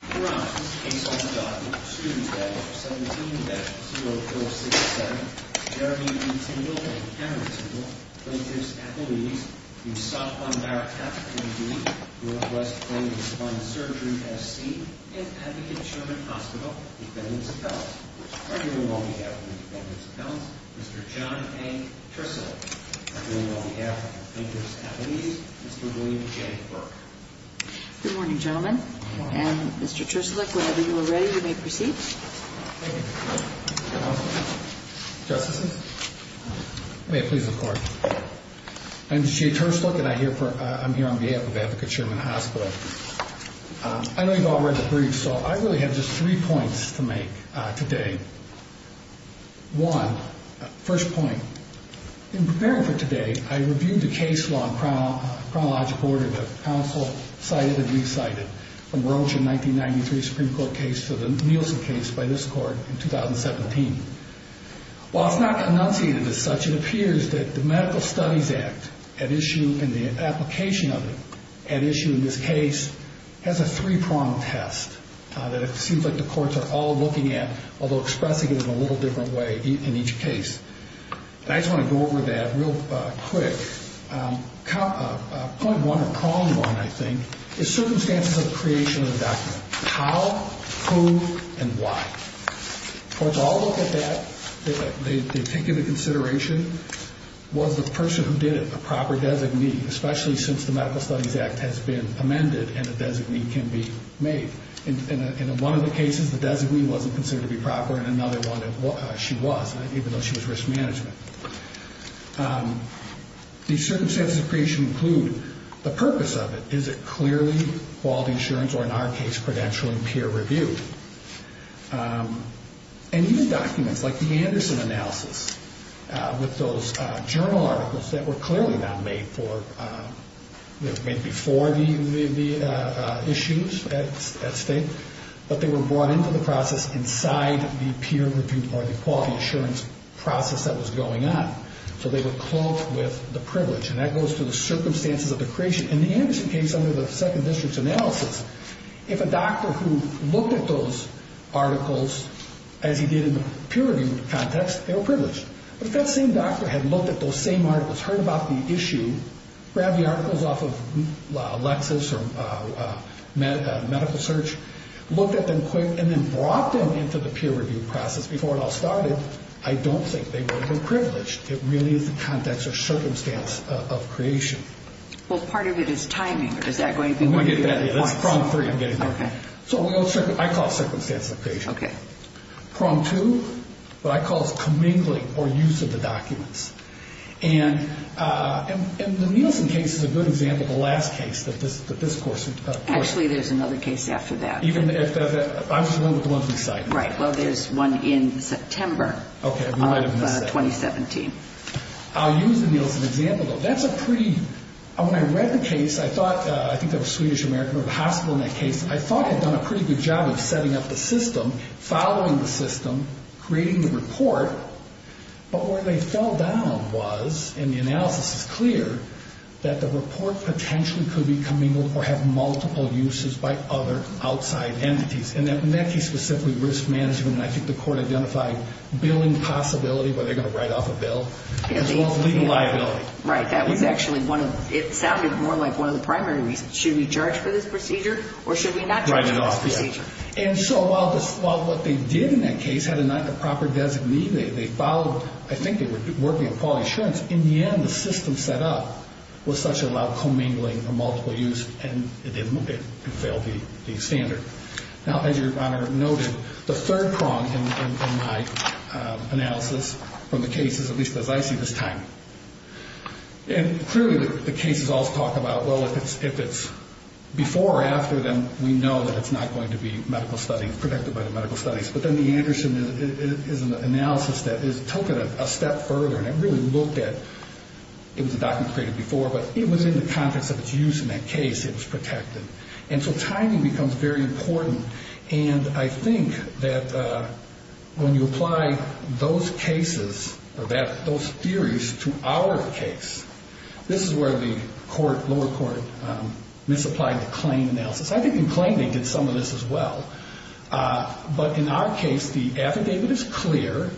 Brian A. Scott, student bed 17-0467, Jeremy E. Tindle and Cameron Tindle, plaintiffs' affiliates, Yusof von Barakat, M.D., Northwest Plain and Spine Surgery, S.C., and Atkinson Chairman Hospital, defendants' appellants. On your long behalf, the defendants' appellants, Mr. John A. Tristle. On your long behalf, the plaintiffs' affiliates, Mr. William J. Burke. Good morning, gentlemen. And, Mr. Tristle, whenever you are ready, you may proceed. Justices, may it please the Court. I'm J.A. Tristle and I'm here on behalf of Advocate Chairman Hospital. I know you've all read the brief, so I really have just three points to make today. One, first point, in preparing for today, I reviewed the case law and chronological order that counsel cited and recited, from Roche's 1993 Supreme Court case to the Nielsen case by this Court in 2017. While it's not enunciated as such, it appears that the Medical Studies Act, at issue in the application of it, at issue in this case, has a three-pronged test that it seems like the courts are all looking at, although expressing it in a little different way in each case. I just want to go over that real quick. Point one, or prong one, I think, is circumstances of creation of the document. How, who, and why. Courts all look at that. They take into consideration, was the person who did it a proper designee, especially since the Medical Studies Act has been amended and a designee can be made? In one of the cases, the designee wasn't considered to be proper, and in another one, she was, even though she was risk management. These circumstances of creation include the purpose of it. Is it clearly quality assurance, or in our case, credential and peer review? And these documents, like the Anderson analysis, with those journal articles that were clearly not made for, made before the issues at state, but they were brought into the process inside the peer review, or the quality assurance process that was going on. So they were cloaked with the privilege, and that goes to the circumstances of the creation. In the Anderson case, under the second district's analysis, if a doctor who looked at those articles as he did in the peer review context, they were privileged. But if that same doctor had looked at those same articles, heard about the issue, grabbed the articles off of Lexis or Medical Search, looked at them quick, and then brought them into the peer review process before it all started, I don't think they would have been privileged. It really is the context or circumstance of creation. Well, part of it is timing. Is that going to be... That's prong three, I'm getting there. Okay. So I call it circumstance of creation. Okay. What I call is commingling, or use of the documents. And the Nielsen case is a good example of the last case that this course... Actually, there's another case after that. Even if... I'm just going with the ones we cite. Right. Well, there's one in September... Okay, we might have missed that one. ...of 2017. I'll use the Nielsen example, though. That's a pretty... When I read the case, I thought, I think there were Swedish, American, or the hospital in that case, I thought had done a pretty good job of setting up the system, following the system, creating the report. But where they fell down was, and the analysis is clear, that the report potentially could be commingled or have multiple uses by other outside entities. And that case was simply risk management, and I think the court identified billing possibility, where they're going to write off a bill, as well as legal liability. Right. That was actually one of... It sounded more like one of the primary reasons. Should we charge for this procedure, or should we not charge? And so while what they did in that case had a proper designee, they followed, I think they were working on quality assurance. In the end, the system set up was such it allowed commingling or multiple use, and it didn't fail the standard. Now, as Your Honor noted, the third prong in my analysis from the cases, at least as I see this time, and clearly the cases all talk about, well, if it's before or after them, we know that it's not going to be medical studies, protected by the medical studies. But then the Anderson is an analysis that is taken a step further, and it really looked at, it was a document created before, but it was in the context of its use in that case, it was protected. And so timing becomes very important, and I think that when you apply those cases, or those theories, to our case, this is where the lower court misapplied the claim analysis. I think in claiming, it's some of this as well. But in our case, the affidavit is clear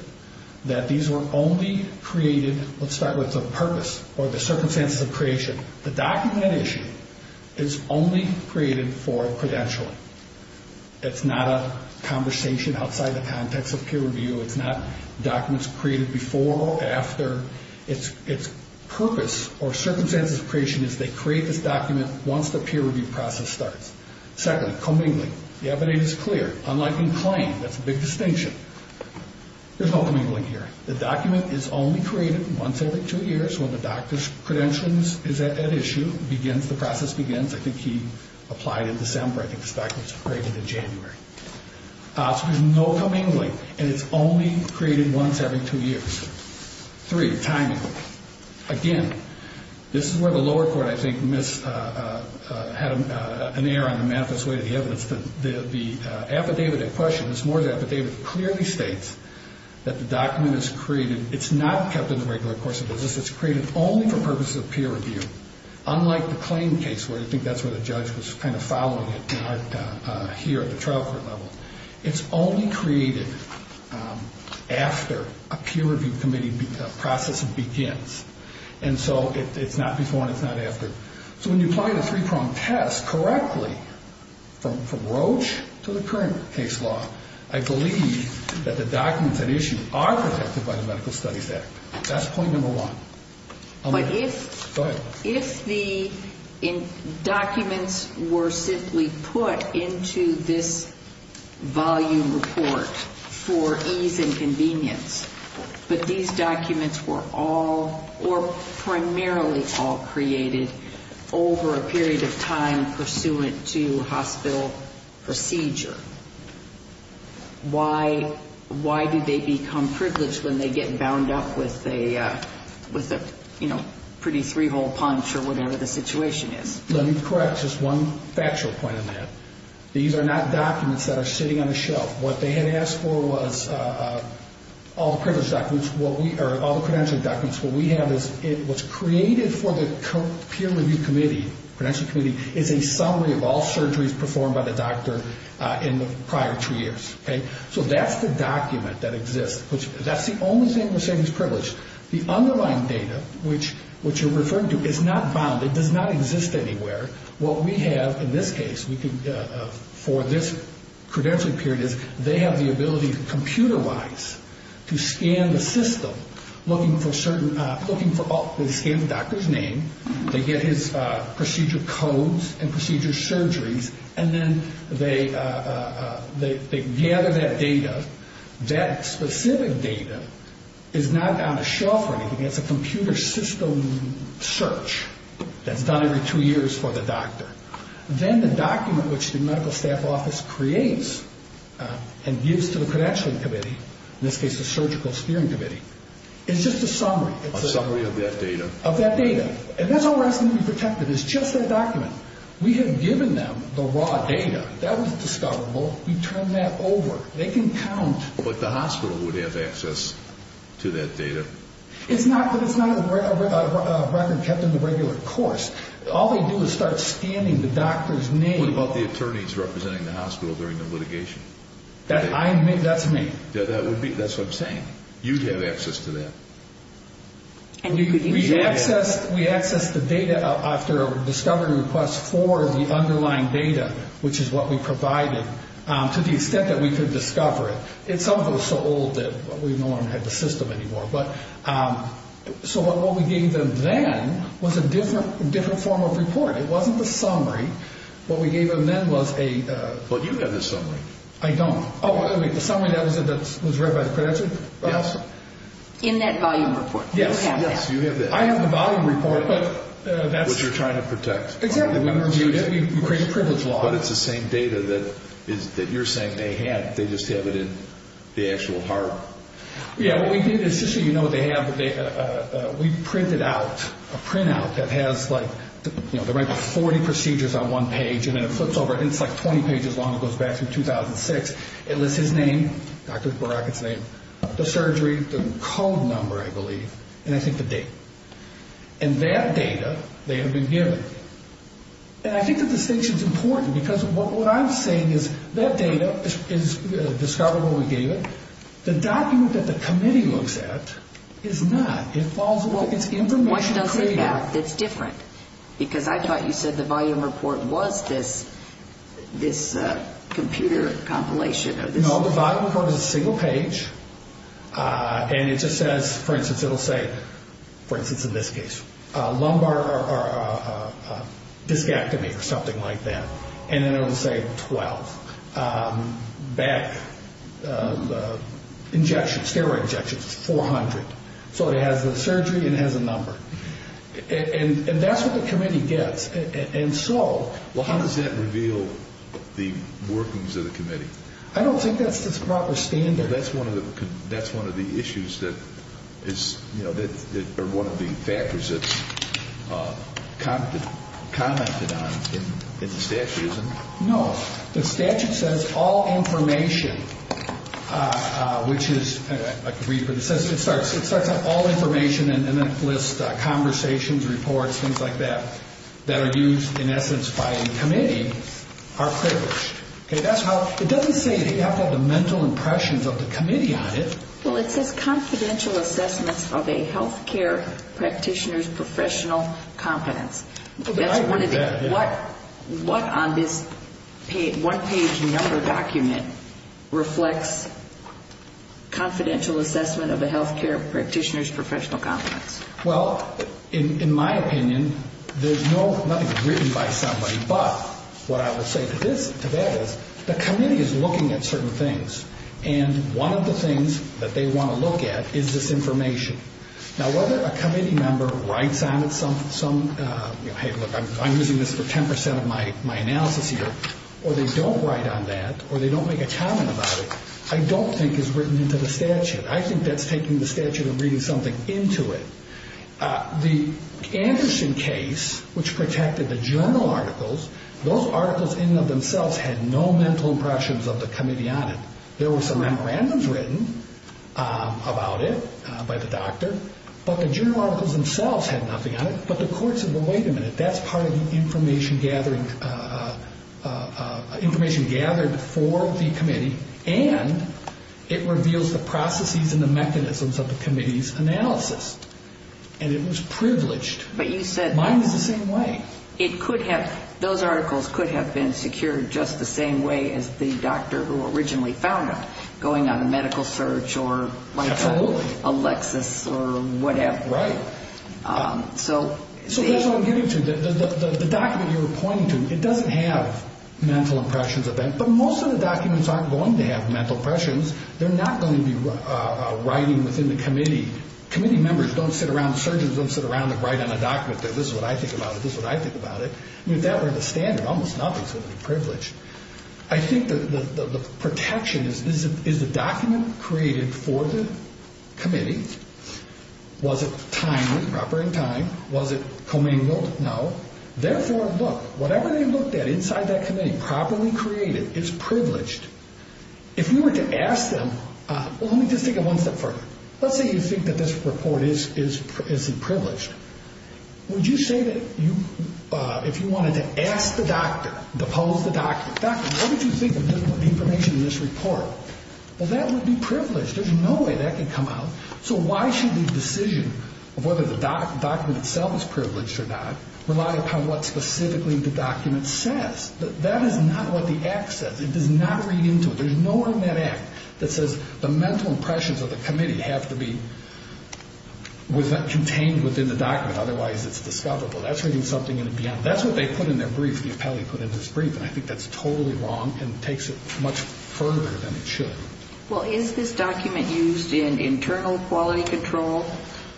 that these were only created, let's start with the purpose, or the circumstances of creation. The document at issue is only created for credentialing. It's not a conversation outside the context of peer review. It's not documents created before or after. Its purpose, or circumstances of creation, is they create this document once the peer review process starts. Secondly, commingling. The affidavit is clear. Unlike in claim, that's a big distinction. There's no commingling here. The document is only created once every two years, when the doctor's credentials is at issue, begins, the process begins, I think he applied in December, I think this document was created in January. So there's no commingling, and it's only created once every two years. Three, timing. Again, this is where the lower court, I think, missed, had an error on the manifest way of the evidence. The affidavit in question, it's more of an affidavit, clearly states that the document is created, it's not kept in the regular course of business, it's created only for purposes of peer review. Unlike the claim case, where I think that's where the judge was kind of following it, here at the trial court level. It's only created after a peer review committee process begins. And so it's not before and it's not after. So when you apply the three-prong test correctly, from Roche to the current case law, I believe that the documents at issue are protected by the Medical Studies Act. That's point number one. But if the documents were simply put into this volume report for ease and convenience, but these documents were all or primarily all created over a period of time pursuant to hospital procedure, why do they become privileged when they get bound up with a pretty three-hole punch or whatever the situation is? Let me correct just one factual point on that. These are not documents that are sitting on the shelf. What they had asked for was all the credentialed documents. What we have is it was created for the peer review committee, credentialed committee, is a summary of all surgeries performed by the doctor in the prior two years. So that's the document that exists. That's the only thing we're saying is privileged. The underlying data, which you're referring to, is not bound. It does not exist anywhere. What we have in this case for this credentialing period is they have the ability computer-wise to scan the system looking for certain, looking for all, they scan the doctor's name, they get his procedure codes and procedure surgeries, and then they gather that data. That specific data is not on a shelf or anything. It's a computer system search that's done every two years for the doctor. Then the document which the medical staff office creates and gives to the credentialing committee, in this case the surgical steering committee, is just a summary. A summary of that data. Of that data. And that's all we're asking to be protected is just that document. We have given them the raw data. That was discoverable. We turned that over. They can count. But the hospital would have access to that data. It's not a record kept in the regular course. All they do is start scanning the doctor's name. What about the attorneys representing the hospital during the litigation? That's me. That's what I'm saying. You'd have access to that. We accessed the data after a discovery request for the underlying data, which is what we provided, to the extent that we could discover it. Some of it was so old that we no longer had the system anymore. So what we gave them then was a different form of report. It wasn't the summary. What we gave them then was a... But you have the summary. I don't. The summary that was read by the credentialing? Yes. In that volume report. Yes. Yes, you have that. I have the volume report. Which you're trying to protect. Exactly. We reviewed it. We created a privilege log. But it's the same data that you're saying they had. They just have it in the actual heart. Yes, what we did is just so you know what they have, we printed out a printout that has the rank of 40 procedures on one page, and then it flips over, and it's like 20 pages long. It goes back to 2006. It lists his name, Dr. Barakat's name, the surgery, the code number, I believe, and I think the date. And that data, they had been given. And I think the distinction is important because what I'm saying is that data is discovered when we gave it. The document that the committee looks at is not. It's information created. What does it have that's different? Because I thought you said the volume report was this computer compilation. No, the volume report is a single page, and it just says, for instance, it will say, for instance in this case, lumbar discectomy or something like that. And then it will say 12. Back injections, steroid injections, 400. So it has the surgery and it has a number. And that's what the committee gets. And so – Well, how does that reveal the workings of the committee? I don't think that's the proper standard. Well, that's one of the issues that is – or one of the factors that's commented on in the statute, isn't it? No. The statute says all information, which is – I can read it for you. It starts with all information and then lists conversations, reports, things like that, that are used, in essence, by a committee, are published. It doesn't say that you have to have the mental impressions of the committee on it. Well, it says confidential assessments of a health care practitioner's professional competence. That's one of the – I read that. What on this one-page number document reflects confidential assessment of a health care practitioner's professional competence? Well, in my opinion, there's nothing written by somebody. But what I would say to that is the committee is looking at certain things. And one of the things that they want to look at is this information. Now, whether a committee member writes on it some – hey, look, I'm using this for 10 percent of my analysis here. Or they don't write on that or they don't make a comment about it, I don't think is written into the statute. I think that's taking the statute and reading something into it. The Anderson case, which protected the journal articles, those articles in and of themselves had no mental impressions of the committee on it. There were some memorandums written about it by the doctor, but the journal articles themselves had nothing on it. But the courts said, well, wait a minute, that's part of the information gathering – it reveals the processes and the mechanisms of the committee's analysis. And it was privileged. But you said – Mine is the same way. It could have – those articles could have been secured just the same way as the doctor who originally found them, going on a medical search or – Absolutely. Like Alexis or whatever. Right. So – So that's what I'm getting to. The document you were pointing to, it doesn't have mental impressions of that. But most of the documents aren't going to have mental impressions. They're not going to be writing within the committee. Committee members don't sit around – surgeons don't sit around and write on a document. They're, this is what I think about it, this is what I think about it. If that were the standard, almost nothing is going to be privileged. I think the protection is, is the document created for the committee? Was it timely, proper in time? Was it commingled? No. Therefore, look, whatever they looked at inside that committee, properly created, is privileged. If you were to ask them, well, let me just take it one step further. Let's say you think that this report isn't privileged. Would you say that you, if you wanted to ask the doctor, depose the doctor, doctor, what would you think of the information in this report? Well, that would be privileged. There's no way that could come out. So why should the decision of whether the document itself is privileged or not rely upon what specifically the document says? That is not what the act says. It does not read into it. There's nowhere in that act that says the mental impressions of the committee have to be contained within the document. Otherwise, it's discoverable. That's reading something in the end. That's what they put in their brief, the appellee put in his brief, and I think that's totally wrong and takes it much further than it should. Well, is this document used in internal quality control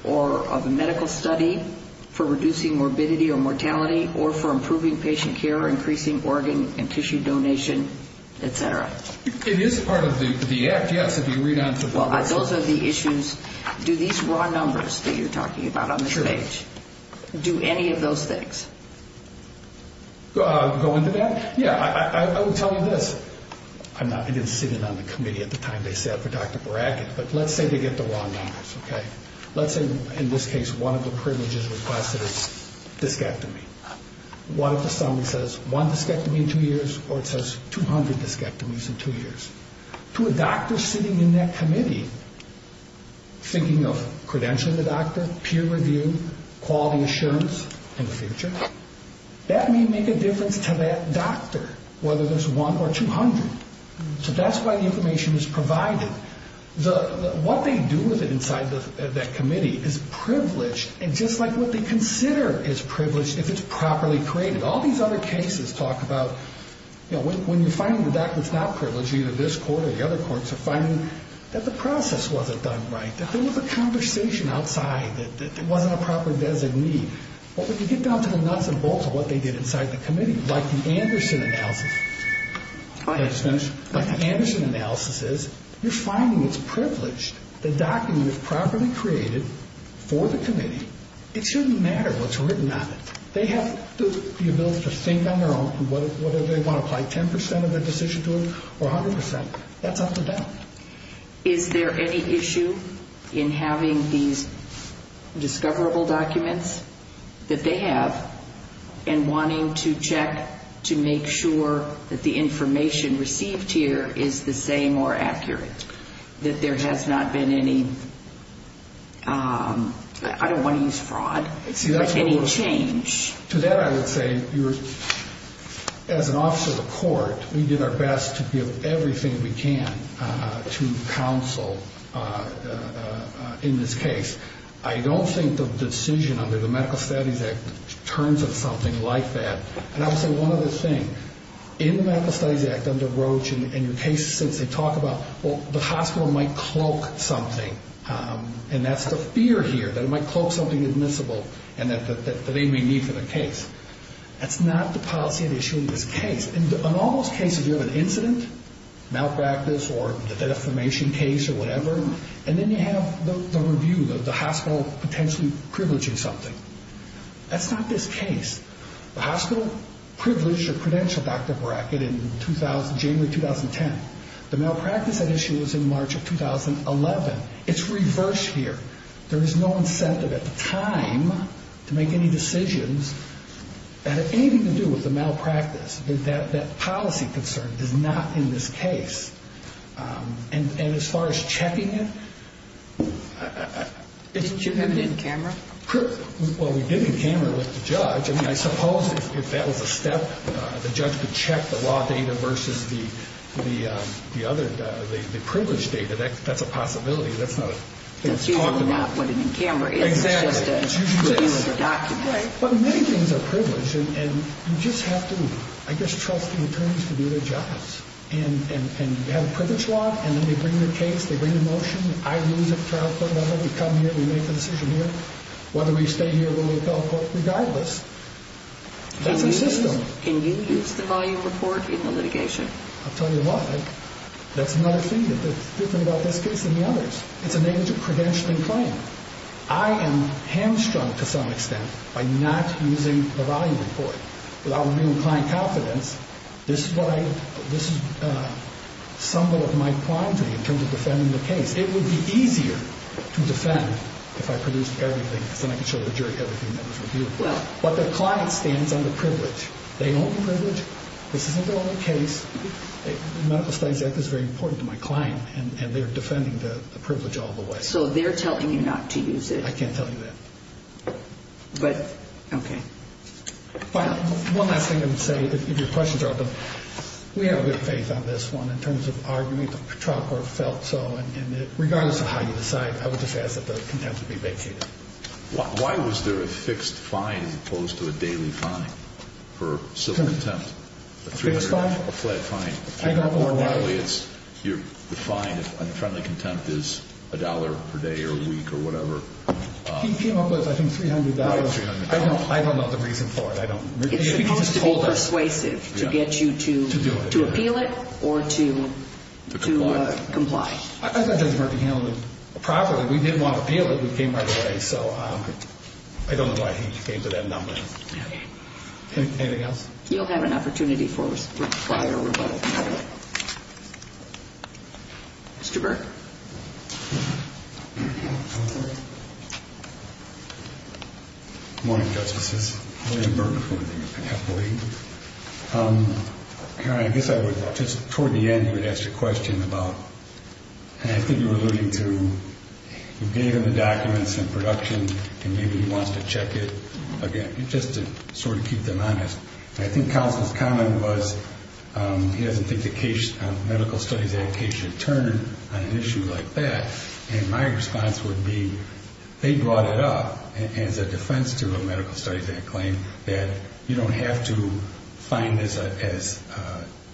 or of a medical study for reducing morbidity or mortality or for improving patient care, increasing organ and tissue donation, et cetera? It is part of the act, yes, if you read on. Well, those are the issues. Do these raw numbers that you're talking about on the page, do any of those things? Go into that? Yeah, I would tell you this. I didn't sit in on the committee at the time they set for Dr. Barakat, but let's say they get the raw numbers, okay? Let's say, in this case, one of the privileges requested is discectomy. What if the summary says one discectomy in two years or it says 200 discectomies in two years? To a doctor sitting in that committee thinking of credentialing the doctor, peer review, quality assurance in the future, that may make a difference to that doctor, whether there's one or 200. So that's why the information is provided. What they do with it inside that committee is privileged, and just like what they consider is privileged if it's properly created. All these other cases talk about when you're finding the doctor's not privileged, either this court or the other courts are finding that the process wasn't done right, that there was a conversation outside, that there wasn't a proper designee. But when you get down to the nuts and bolts of what they did inside the committee, like the Anderson analysis is, you're finding it's privileged. The document is properly created for the committee. It shouldn't matter what's written on it. They have the ability to think on their own, whether they want to apply 10 percent of their decision to it or 100 percent. That's up to them. Is there any issue in having these discoverable documents that they have and wanting to check to make sure that the information received here is the same or accurate, that there has not been any, I don't want to use fraud, but any change? To that I would say, as an officer of the court, we did our best to give everything we can to counsel in this case. I don't think the decision under the Medical Studies Act turns into something like that. And I would say one other thing. In the Medical Studies Act, under Roach and your cases, they talk about the hospital might cloak something, and that's the fear here, that it might cloak something admissible and that they may need for the case. That's not the policy at issue in this case. In all those cases, you have an incident, malpractice or a defamation case or whatever, and then you have the review, the hospital potentially privileging something. That's not this case. The hospital privileged a credential doctor bracket in January 2010. The malpractice at issue was in March of 2011. It's reversed here. There is no incentive at the time to make any decisions that have anything to do with the malpractice. That policy concern is not in this case. And as far as checking it, it's... Did you have it in camera? Well, we did it in camera with the judge. I mean, I suppose if that was a step, the judge could check the law data versus the other, the privileged data. That's a possibility. That's usually not what it is in camera. It's just a document. But many things are privileged, and you just have to, I guess, trust the attorneys to do their jobs. And you have a privilege law, and then they bring the case, they bring the motion. I lose at trial court level. We come here, we make the decision here. Whether we stay here, whether we go, regardless. That's a system. Can you use the volume report in the litigation? I'll tell you what, that's another thing that's different about this case than the others. It's a negligent credentialing claim. I am hamstrung, to some extent, by not using the volume report. Without reviewing client confidence, this is what I, this is some of my clientry in terms of defending the case. It would be easier to defend if I produced everything, because then I could show the jury everything that was reviewed. But the client stands under privilege. They own the privilege. This isn't their own case. The Medical Studies Act is very important to my client, and they're defending the privilege all the way. So they're telling you not to use it. I can't tell you that. But, okay. One last thing I would say, if your questions are open, we have a good faith on this one in terms of argument. The trial court felt so, and regardless of how you decide, I would just ask that the contempt be vacated. Why was there a fixed fine as opposed to a daily fine for civil contempt? A fixed fine? A flat fine. I don't know why. Normally, the fine on friendly contempt is a dollar per day or a week or whatever. He came up with, I think, $300. I don't know the reason for it. It's supposed to be persuasive to get you to appeal it or to comply. I thought Judge Murphy handled it properly. We didn't want to appeal it. We came right away. So I don't know why he came to that number. Okay. Anything else? You'll have an opportunity for prior rebuttal. Mr. Burke. Good morning, Justices. William Burke. I guess I would just, toward the end, you would ask a question about, I think you were alluding to you gave him the documents in production and maybe he wants to check it again. Just to sort of keep them honest. I think counsel's comment was he doesn't think the case, Medical Studies Act case should turn on an issue like that. And my response would be they brought it up as a defense to a Medical Studies Act claim that you don't have to find this as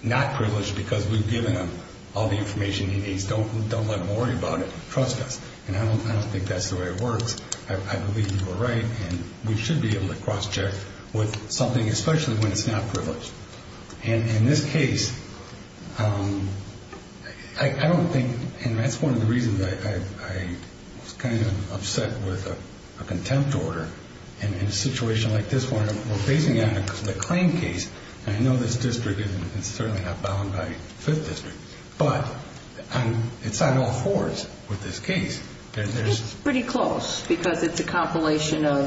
not privileged because we've given him all the information he needs. Don't let him worry about it. Trust us. And I don't think that's the way it works. I believe you were right. And we should be able to cross-check with something, especially when it's not privileged. And in this case, I don't think, and that's one of the reasons I was kind of upset with a contempt order. And in a situation like this one, we're basing it on a claim case. And I know this district is certainly not bound by Fifth District. But it's on all fours with this case. It's pretty close because it's a compilation of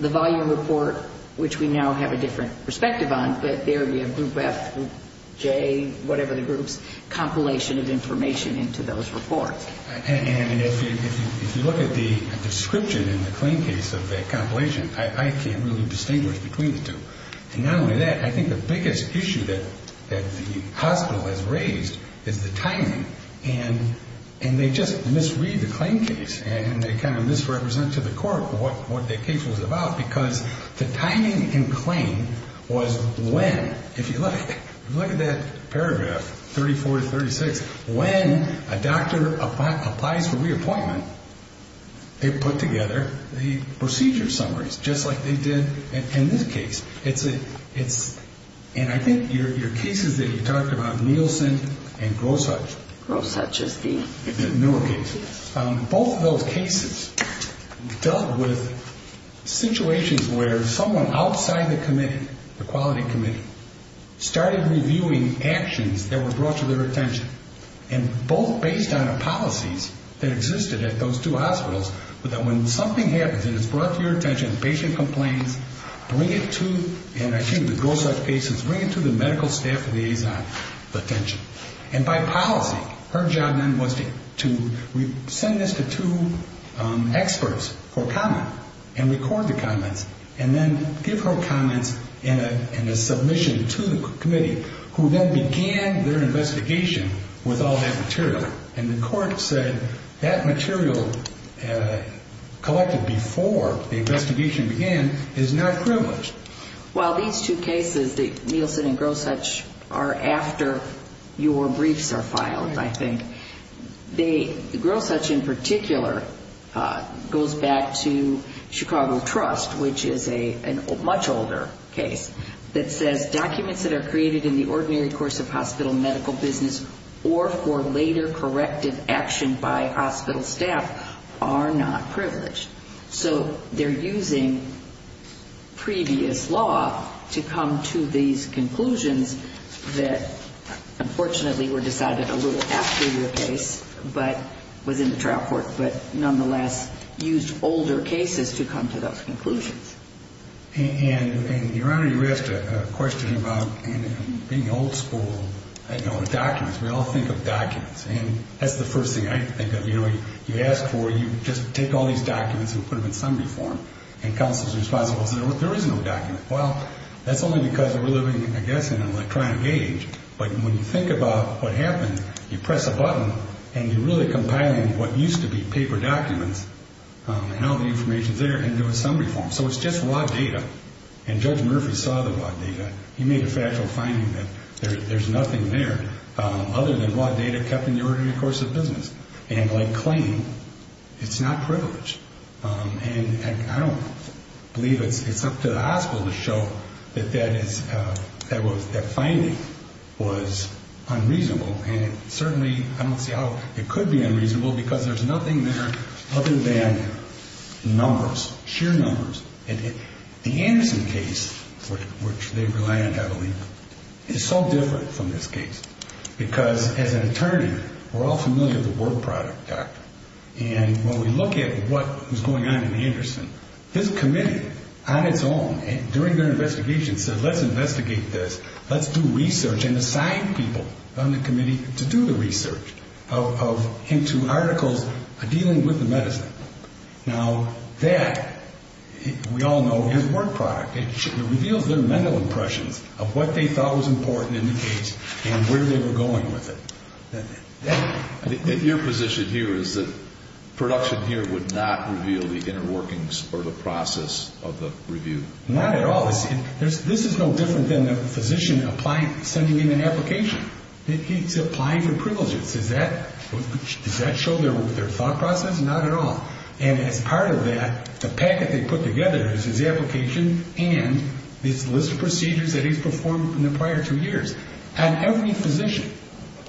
the volume report, which we now have a different perspective on, but there you have group F, group J, whatever the groups, compilation of information into those reports. And if you look at the description in the claim case of that compilation, I can't really distinguish between the two. And not only that, I think the biggest issue that the hospital has raised is the timing. And they just misread the claim case. And they kind of misrepresent to the court what the case was about because the timing in claim was when, if you look at that paragraph, 34 to 36, when a doctor applies for reappointment, they put together the procedure summaries just like they did in this case. And I think your cases that you talked about, Nielsen and Grosuch. Grosuch is the newer case. Both of those cases dealt with situations where someone outside the committee, the quality committee, started reviewing actions that were brought to their attention. And both based on policies that existed at those two hospitals, bring it to, and I think the Grosuch case is bring it to the medical staff liaison's attention. And by policy, her job then was to send this to two experts for comment and record the comments and then give her comments in a submission to the committee, who then began their investigation with all that material. And the court said that material collected before the investigation began is not privileged. Well, these two cases, Nielsen and Grosuch, are after your briefs are filed, I think. The Grosuch in particular goes back to Chicago Trust, which is a much older case that says, Documents that are created in the ordinary course of hospital medical business or for later corrective action by hospital staff are not privileged. So they're using previous law to come to these conclusions that, unfortunately, were decided a little after your case but was in the trial court but nonetheless used older cases to come to those conclusions. And, Your Honor, you asked a question about being old school, you know, documents. We all think of documents. And that's the first thing I think of. You know, you ask for, you just take all these documents and put them in summary form and counsel is responsible. There is no document. Well, that's only because we're living, I guess, in an electronic age. But when you think about what happened, you press a button and you're really compiling what used to be paper documents and all the information's there and do a summary form. So it's just raw data. And Judge Murphy saw the raw data. He made a factual finding that there's nothing there other than raw data kept in the ordinary course of business. And like claim, it's not privileged. And I don't believe it's up to the hospital to show that that finding was unreasonable. And certainly, I don't see how it could be unreasonable because there's nothing there other than numbers, sheer numbers. And the Anderson case, which they rely on heavily, is so different from this case because as an attorney, we're all familiar with the word product doctrine. And when we look at what was going on in Anderson, his committee on its own, during their investigation, said let's investigate this. Let's do research and assign people on the committee to do the research into articles dealing with the medicine. Now that, we all know, is word product. It reveals their mental impressions of what they thought was important in the case and where they were going with it. Your position here is that production here would not reveal the inner workings or the process of the review? Not at all. This is no different than a physician sending in an application. He's applying for privileges. Does that show their thought process? Not at all. And as part of that, the packet they put together is his application and his list of procedures that he's performed in the prior two years. And every physician,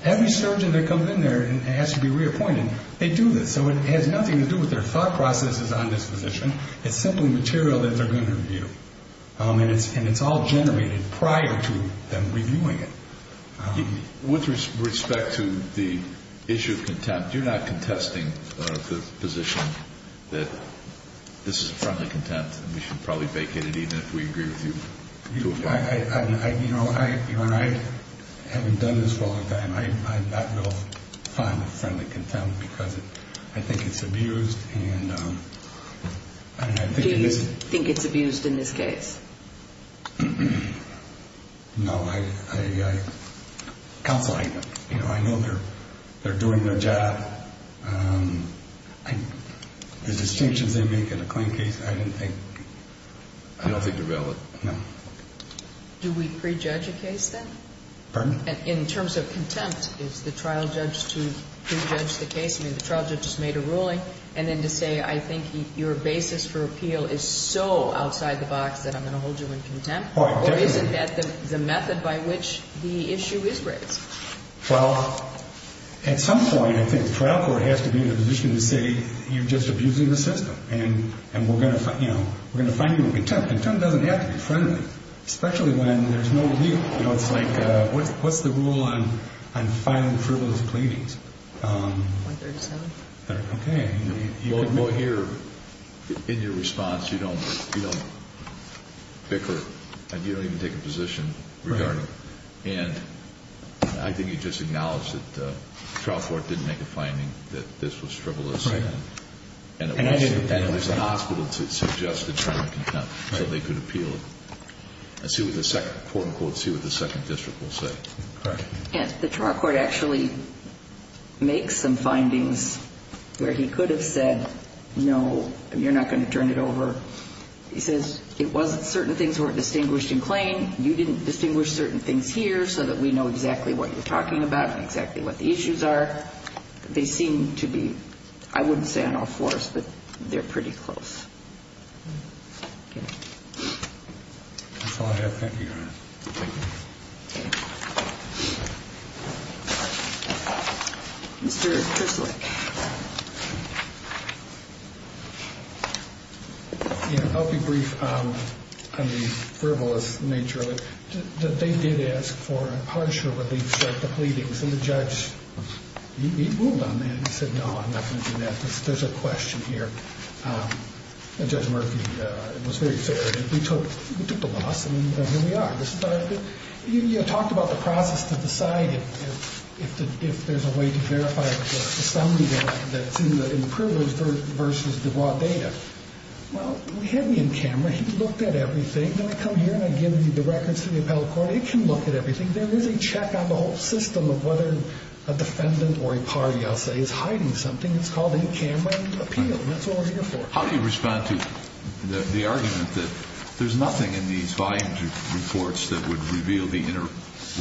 every surgeon that comes in there and has to be reappointed, they do this. So it has nothing to do with their thought processes on this position. It's simply material that they're going to review. And it's all generated prior to them reviewing it. With respect to the issue of contempt, you're not contesting the position that this is a friendly contempt and we should probably vacate it even if we agree with you. You know, I haven't done this for a long time. I'm not going to find it a friendly contempt because I think it's abused. Do you think it's abused in this case? No. Counsel, I know they're doing their job. The distinctions they make in a claim case, I don't think they're valid. No. Do we prejudge a case then? Pardon? In terms of contempt, is the trial judge to prejudge the case? I mean, the trial judge just made a ruling. And then to say, I think your basis for appeal is so outside the box that I'm going to hold you in contempt? Or is it the method by which the issue is raised? Well, at some point, I think the trial court has to be in a position to say, you're just abusing the system and we're going to find you a contempt. Contempt doesn't have to be friendly, especially when there's no review. What's the rule on filing frivolous claimings? 137. Okay. Well, here, in your response, you don't bicker. You don't even take a position regarding it. And I think you just acknowledged that the trial court didn't make a finding that this was frivolous. Right. And it was an hospital to suggest a term of contempt so they could appeal it. Let's see what the second quote, unquote, see what the second district will say. All right. The trial court actually makes some findings where he could have said, no, you're not going to turn it over. He says it wasn't certain things were distinguished in claim. You didn't distinguish certain things here so that we know exactly what you're talking about and exactly what the issues are. They seem to be, I wouldn't say on all fours, but they're pretty close. That's all I have. Thank you, Your Honor. Thank you. Mr. Kerslake. Yeah, I'll be brief on the frivolous nature of it. They did ask for a partial relief for the pleadings, and the judge, he ruled on that. He said, no, I'm not going to do that. There's a question here. Judge Murphy was very fair. We took the loss, and here we are. You talked about the process to decide if there's a way to verify the assembly that's in the frivolous versus the raw data. Well, he had me in camera. He looked at everything. Then I come here and I give you the records to the appellate court. It can look at everything. There is a check on the whole system of whether a defendant or a party, I'll say, is hiding something. It's called a camera appeal, and that's what we're here for. How do you respond to the argument that there's nothing in these volume reports that would reveal the inner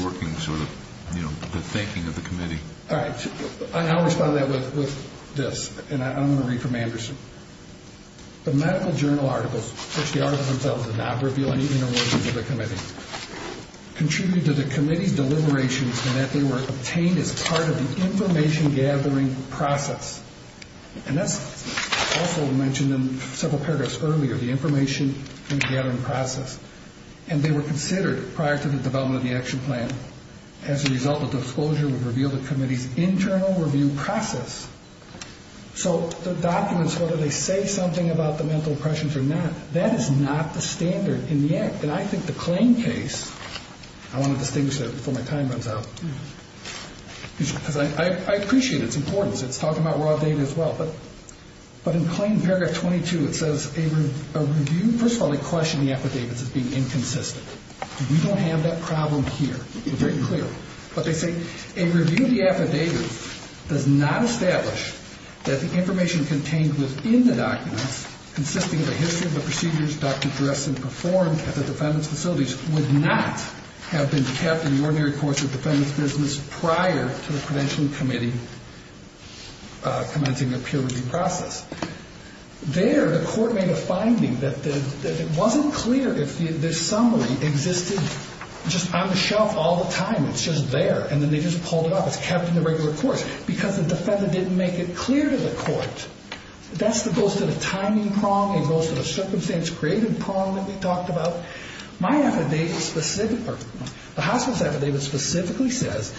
workings or the thinking of the committee? All right. I'll respond to that with this, and I'm going to read from Anderson. The medical journal articles, which the articles themselves did not reveal any inner workings of the committee, contributed to the committee's deliberations in that they were obtained as part of the information-gathering process. And that's also mentioned in several paragraphs earlier, the information-gathering process. And they were considered prior to the development of the action plan. As a result, the disclosure would reveal the committee's internal review process. So the documents, whether they say something about the mental oppressions or not, that is not the standard in the act. And I think the claim case, I want to distinguish that before my time runs out, because I appreciate its importance. It's talking about raw data as well. But in claim paragraph 22, it says a review. First of all, they question the affidavits as being inconsistent. We don't have that problem here. It's very clear. But they say a review of the affidavits does not establish that the information contained within the documents, consisting of a history of the procedures Dr. Dressen performed at the defendant's facilities, would not have been kept in the ordinary course of the defendant's business prior to the credentialing committee commencing their peer review process. There, the court made a finding that it wasn't clear if the summary existed just on the shelf all the time. It's just there. And then they just pulled it off. It's kept in the regular course. Because the defendant didn't make it clear to the court. That goes to the timing prong. It goes to the circumstance-created prong that we talked about. My affidavit, the hospital's affidavit, specifically says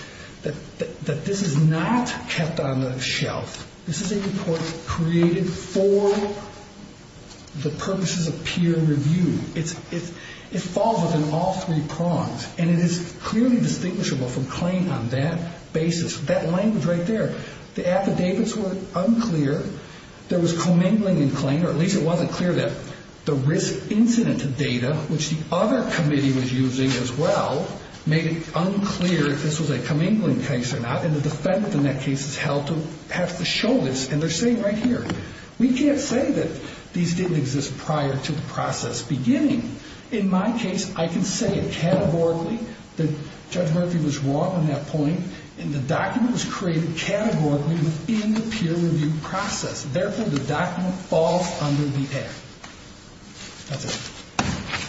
that this is not kept on the shelf. This is a report created for the purposes of peer review. It falls within all three prongs. And it is clearly distinguishable from claim on that basis. That language right there. The affidavits were unclear. There was commingling in claim, or at least it wasn't clear that the risk incident data, which the other committee was using as well, made it unclear if this was a commingling case or not. And the defendant in that case is held to perhaps the shoulders. And they're saying right here, we can't say that these didn't exist prior to the process beginning. In my case, I can say it categorically that Judge Murphy was wrong on that point. And the document was created categorically within the peer review process. Therefore, the document falls under the act. That's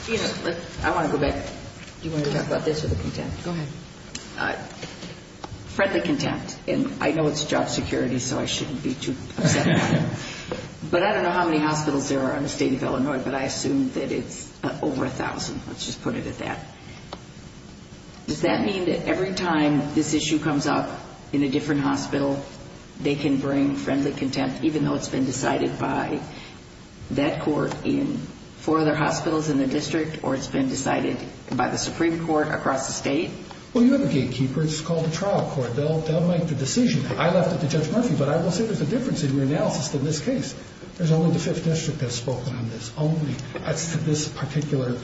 it. I want to go back. Do you want to talk about this or the contempt? Go ahead. Friendly contempt. And I know it's job security, so I shouldn't be too upset about it. But I don't know how many hospitals there are in the state of Illinois, but I assume that it's over 1,000. Let's just put it at that. Does that mean that every time this issue comes up in a different hospital, they can bring friendly contempt even though it's been decided by that court in four other hospitals in the district or it's been decided by the Supreme Court across the state? Well, you have a gatekeeper. It's called the trial court. They'll make the decision. I left it to Judge Murphy, but I will say there's a difference in your analysis in this case. There's only the Fifth District that's spoken on this only. As to this particular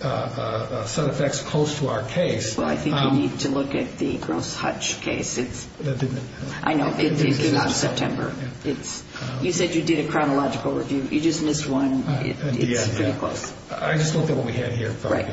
set of facts close to our case. Well, I think you need to look at the Gross Hutch case. That didn't happen. I know. It came out in September. You said you did a chronological review. You just missed one. It's pretty close. I just looked at what we had here. Right.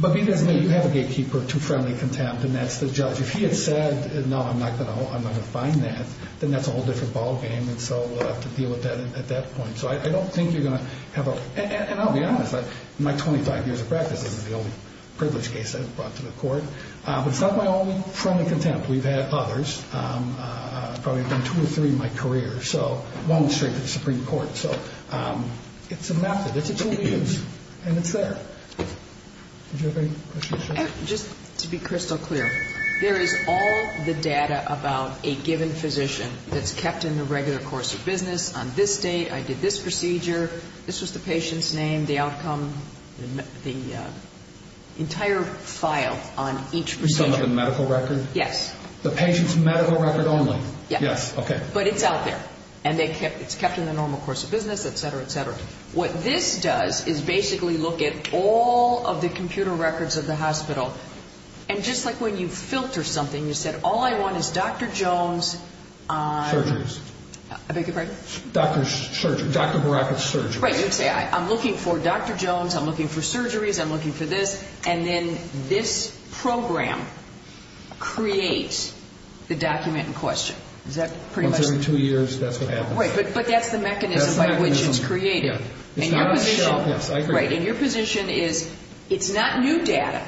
But because you have a gatekeeper to friendly contempt, and that's the judge. If he had said, no, I'm not going to find that, then that's a whole different ballgame. And so we'll have to deal with that at that point. So I don't think you're going to have a – and I'll be honest. In my 25 years of practice, this is the only privilege case I've brought to the court. But it's not my only friendly contempt. We've had others. Probably have been two or three in my career. So long streak of the Supreme Court. So it's a method. It's a tool to use. And it's there. Did you have any questions? Just to be crystal clear, there is all the data about a given physician that's kept in the regular course of business. On this date, I did this procedure. This was the patient's name, the outcome, the entire file on each procedure. Some of the medical record? Yes. The patient's medical record only? Yes. Yes. Okay. But it's out there. And it's kept in the normal course of business, et cetera, et cetera. What this does is basically look at all of the computer records of the hospital. And just like when you filter something, you said, all I want is Dr. Jones. Surgery. I beg your pardon? Dr. Baraka's surgery. Right. You'd say, I'm looking for Dr. Jones. I'm looking for surgeries. I'm looking for this. And then this program creates the document in question. Is that pretty much? Well, during two years, that's what happens. Right. But that's the mechanism by which it's created. That's the mechanism. It's not a show. Yes, I agree. Right. And your position is, it's not new data,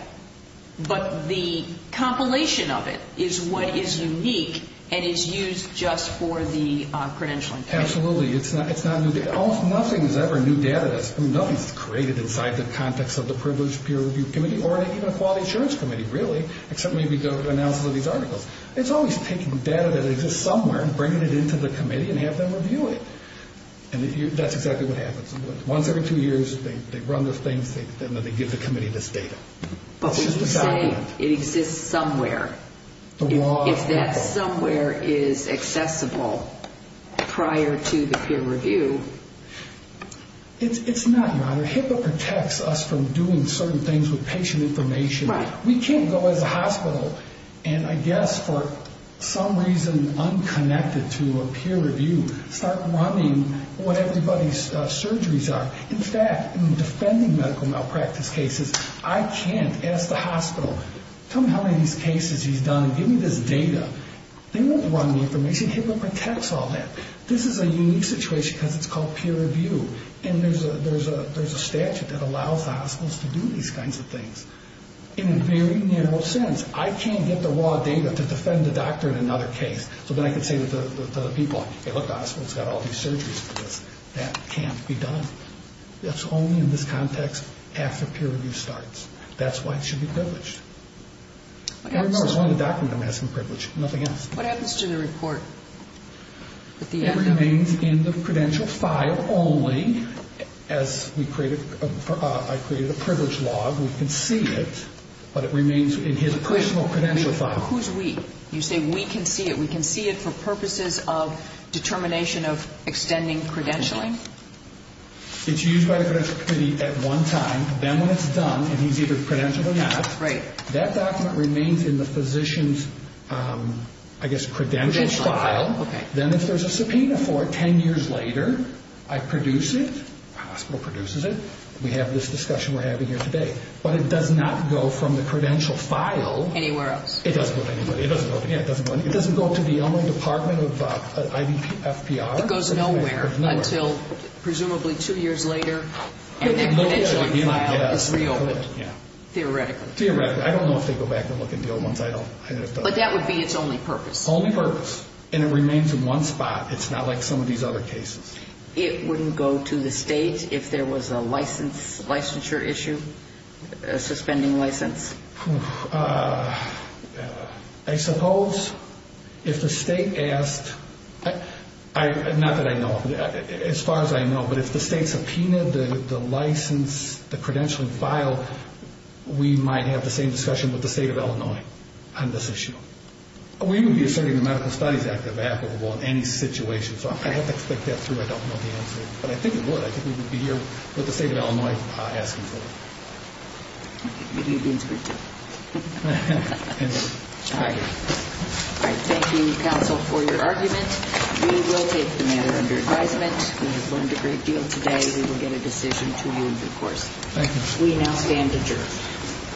but the compilation of it is what is unique and is used just for the credentialing. Absolutely. It's not new data. Nothing is ever new data. Nothing is created inside the context of the Privileged Peer Review Committee or even the Quality Assurance Committee, really, except maybe the analysis of these articles. It's always taking data that exists somewhere and bringing it into the committee and have them review it. And that's exactly what happens. Once every two years, they run those things. They give the committee this data. But we would say it exists somewhere. The law. If that somewhere is accessible prior to the peer review. It's not, Your Honor. HIPAA protects us from doing certain things with patient information. Right. We can't go as a hospital and, I guess, for some reason, unconnected to a peer review, start running what everybody's surgeries are. In fact, in defending medical malpractice cases, I can't ask the hospital, tell me how many of these cases you've done. Give me this data. They won't run the information. HIPAA protects all that. This is a unique situation because it's called peer review. And there's a statute that allows the hospitals to do these kinds of things. In a very narrow sense, I can't get the raw data to defend the doctor in another case. So then I can say to the people, hey, look, the hospital's got all these surgeries for this. That can't be done. That's only in this context after peer review starts. That's why it should be privileged. It's one of the documents I'm asking privilege. Nothing else. What happens to the report? It remains in the credential file only. As I created a privilege log, we can see it. But it remains in his personal credential file. Who's we? You say we can see it. We can see it for purposes of determination of extending credentialing? It's used by the credential committee at one time. Then when it's done, and he's either credentialed or not, that document remains in the physician's, I guess, credential file. Then if there's a subpoena for it 10 years later, I produce it. The hospital produces it. We have this discussion we're having here today. But it does not go from the credential file. Anywhere else? It doesn't go to anybody. It doesn't go to the only department of IVFPR. It goes nowhere until presumably two years later, and the credentialing file is reopened, theoretically. Theoretically. I don't know if they go back and look at the old ones. But that would be its only purpose. Only purpose. And it remains in one spot. It's not like some of these other cases. It wouldn't go to the state if there was a licensure issue, a suspending license? I suppose if the state asked, not that I know of, as far as I know, but if the state subpoenaed the license, the credentialing file, we might have the same discussion with the state of Illinois on this issue. We wouldn't be asserting the Medical Studies Act of applicable in any situation. So I have to think that through. I don't know the answer. But I think it would. I think we would be here with the state of Illinois asking for it. Good evening. Thank you, counsel, for your argument. We will take the matter under advisement. We have learned a great deal today. We will get a decision to you in due course. Thank you. We now stand adjourned.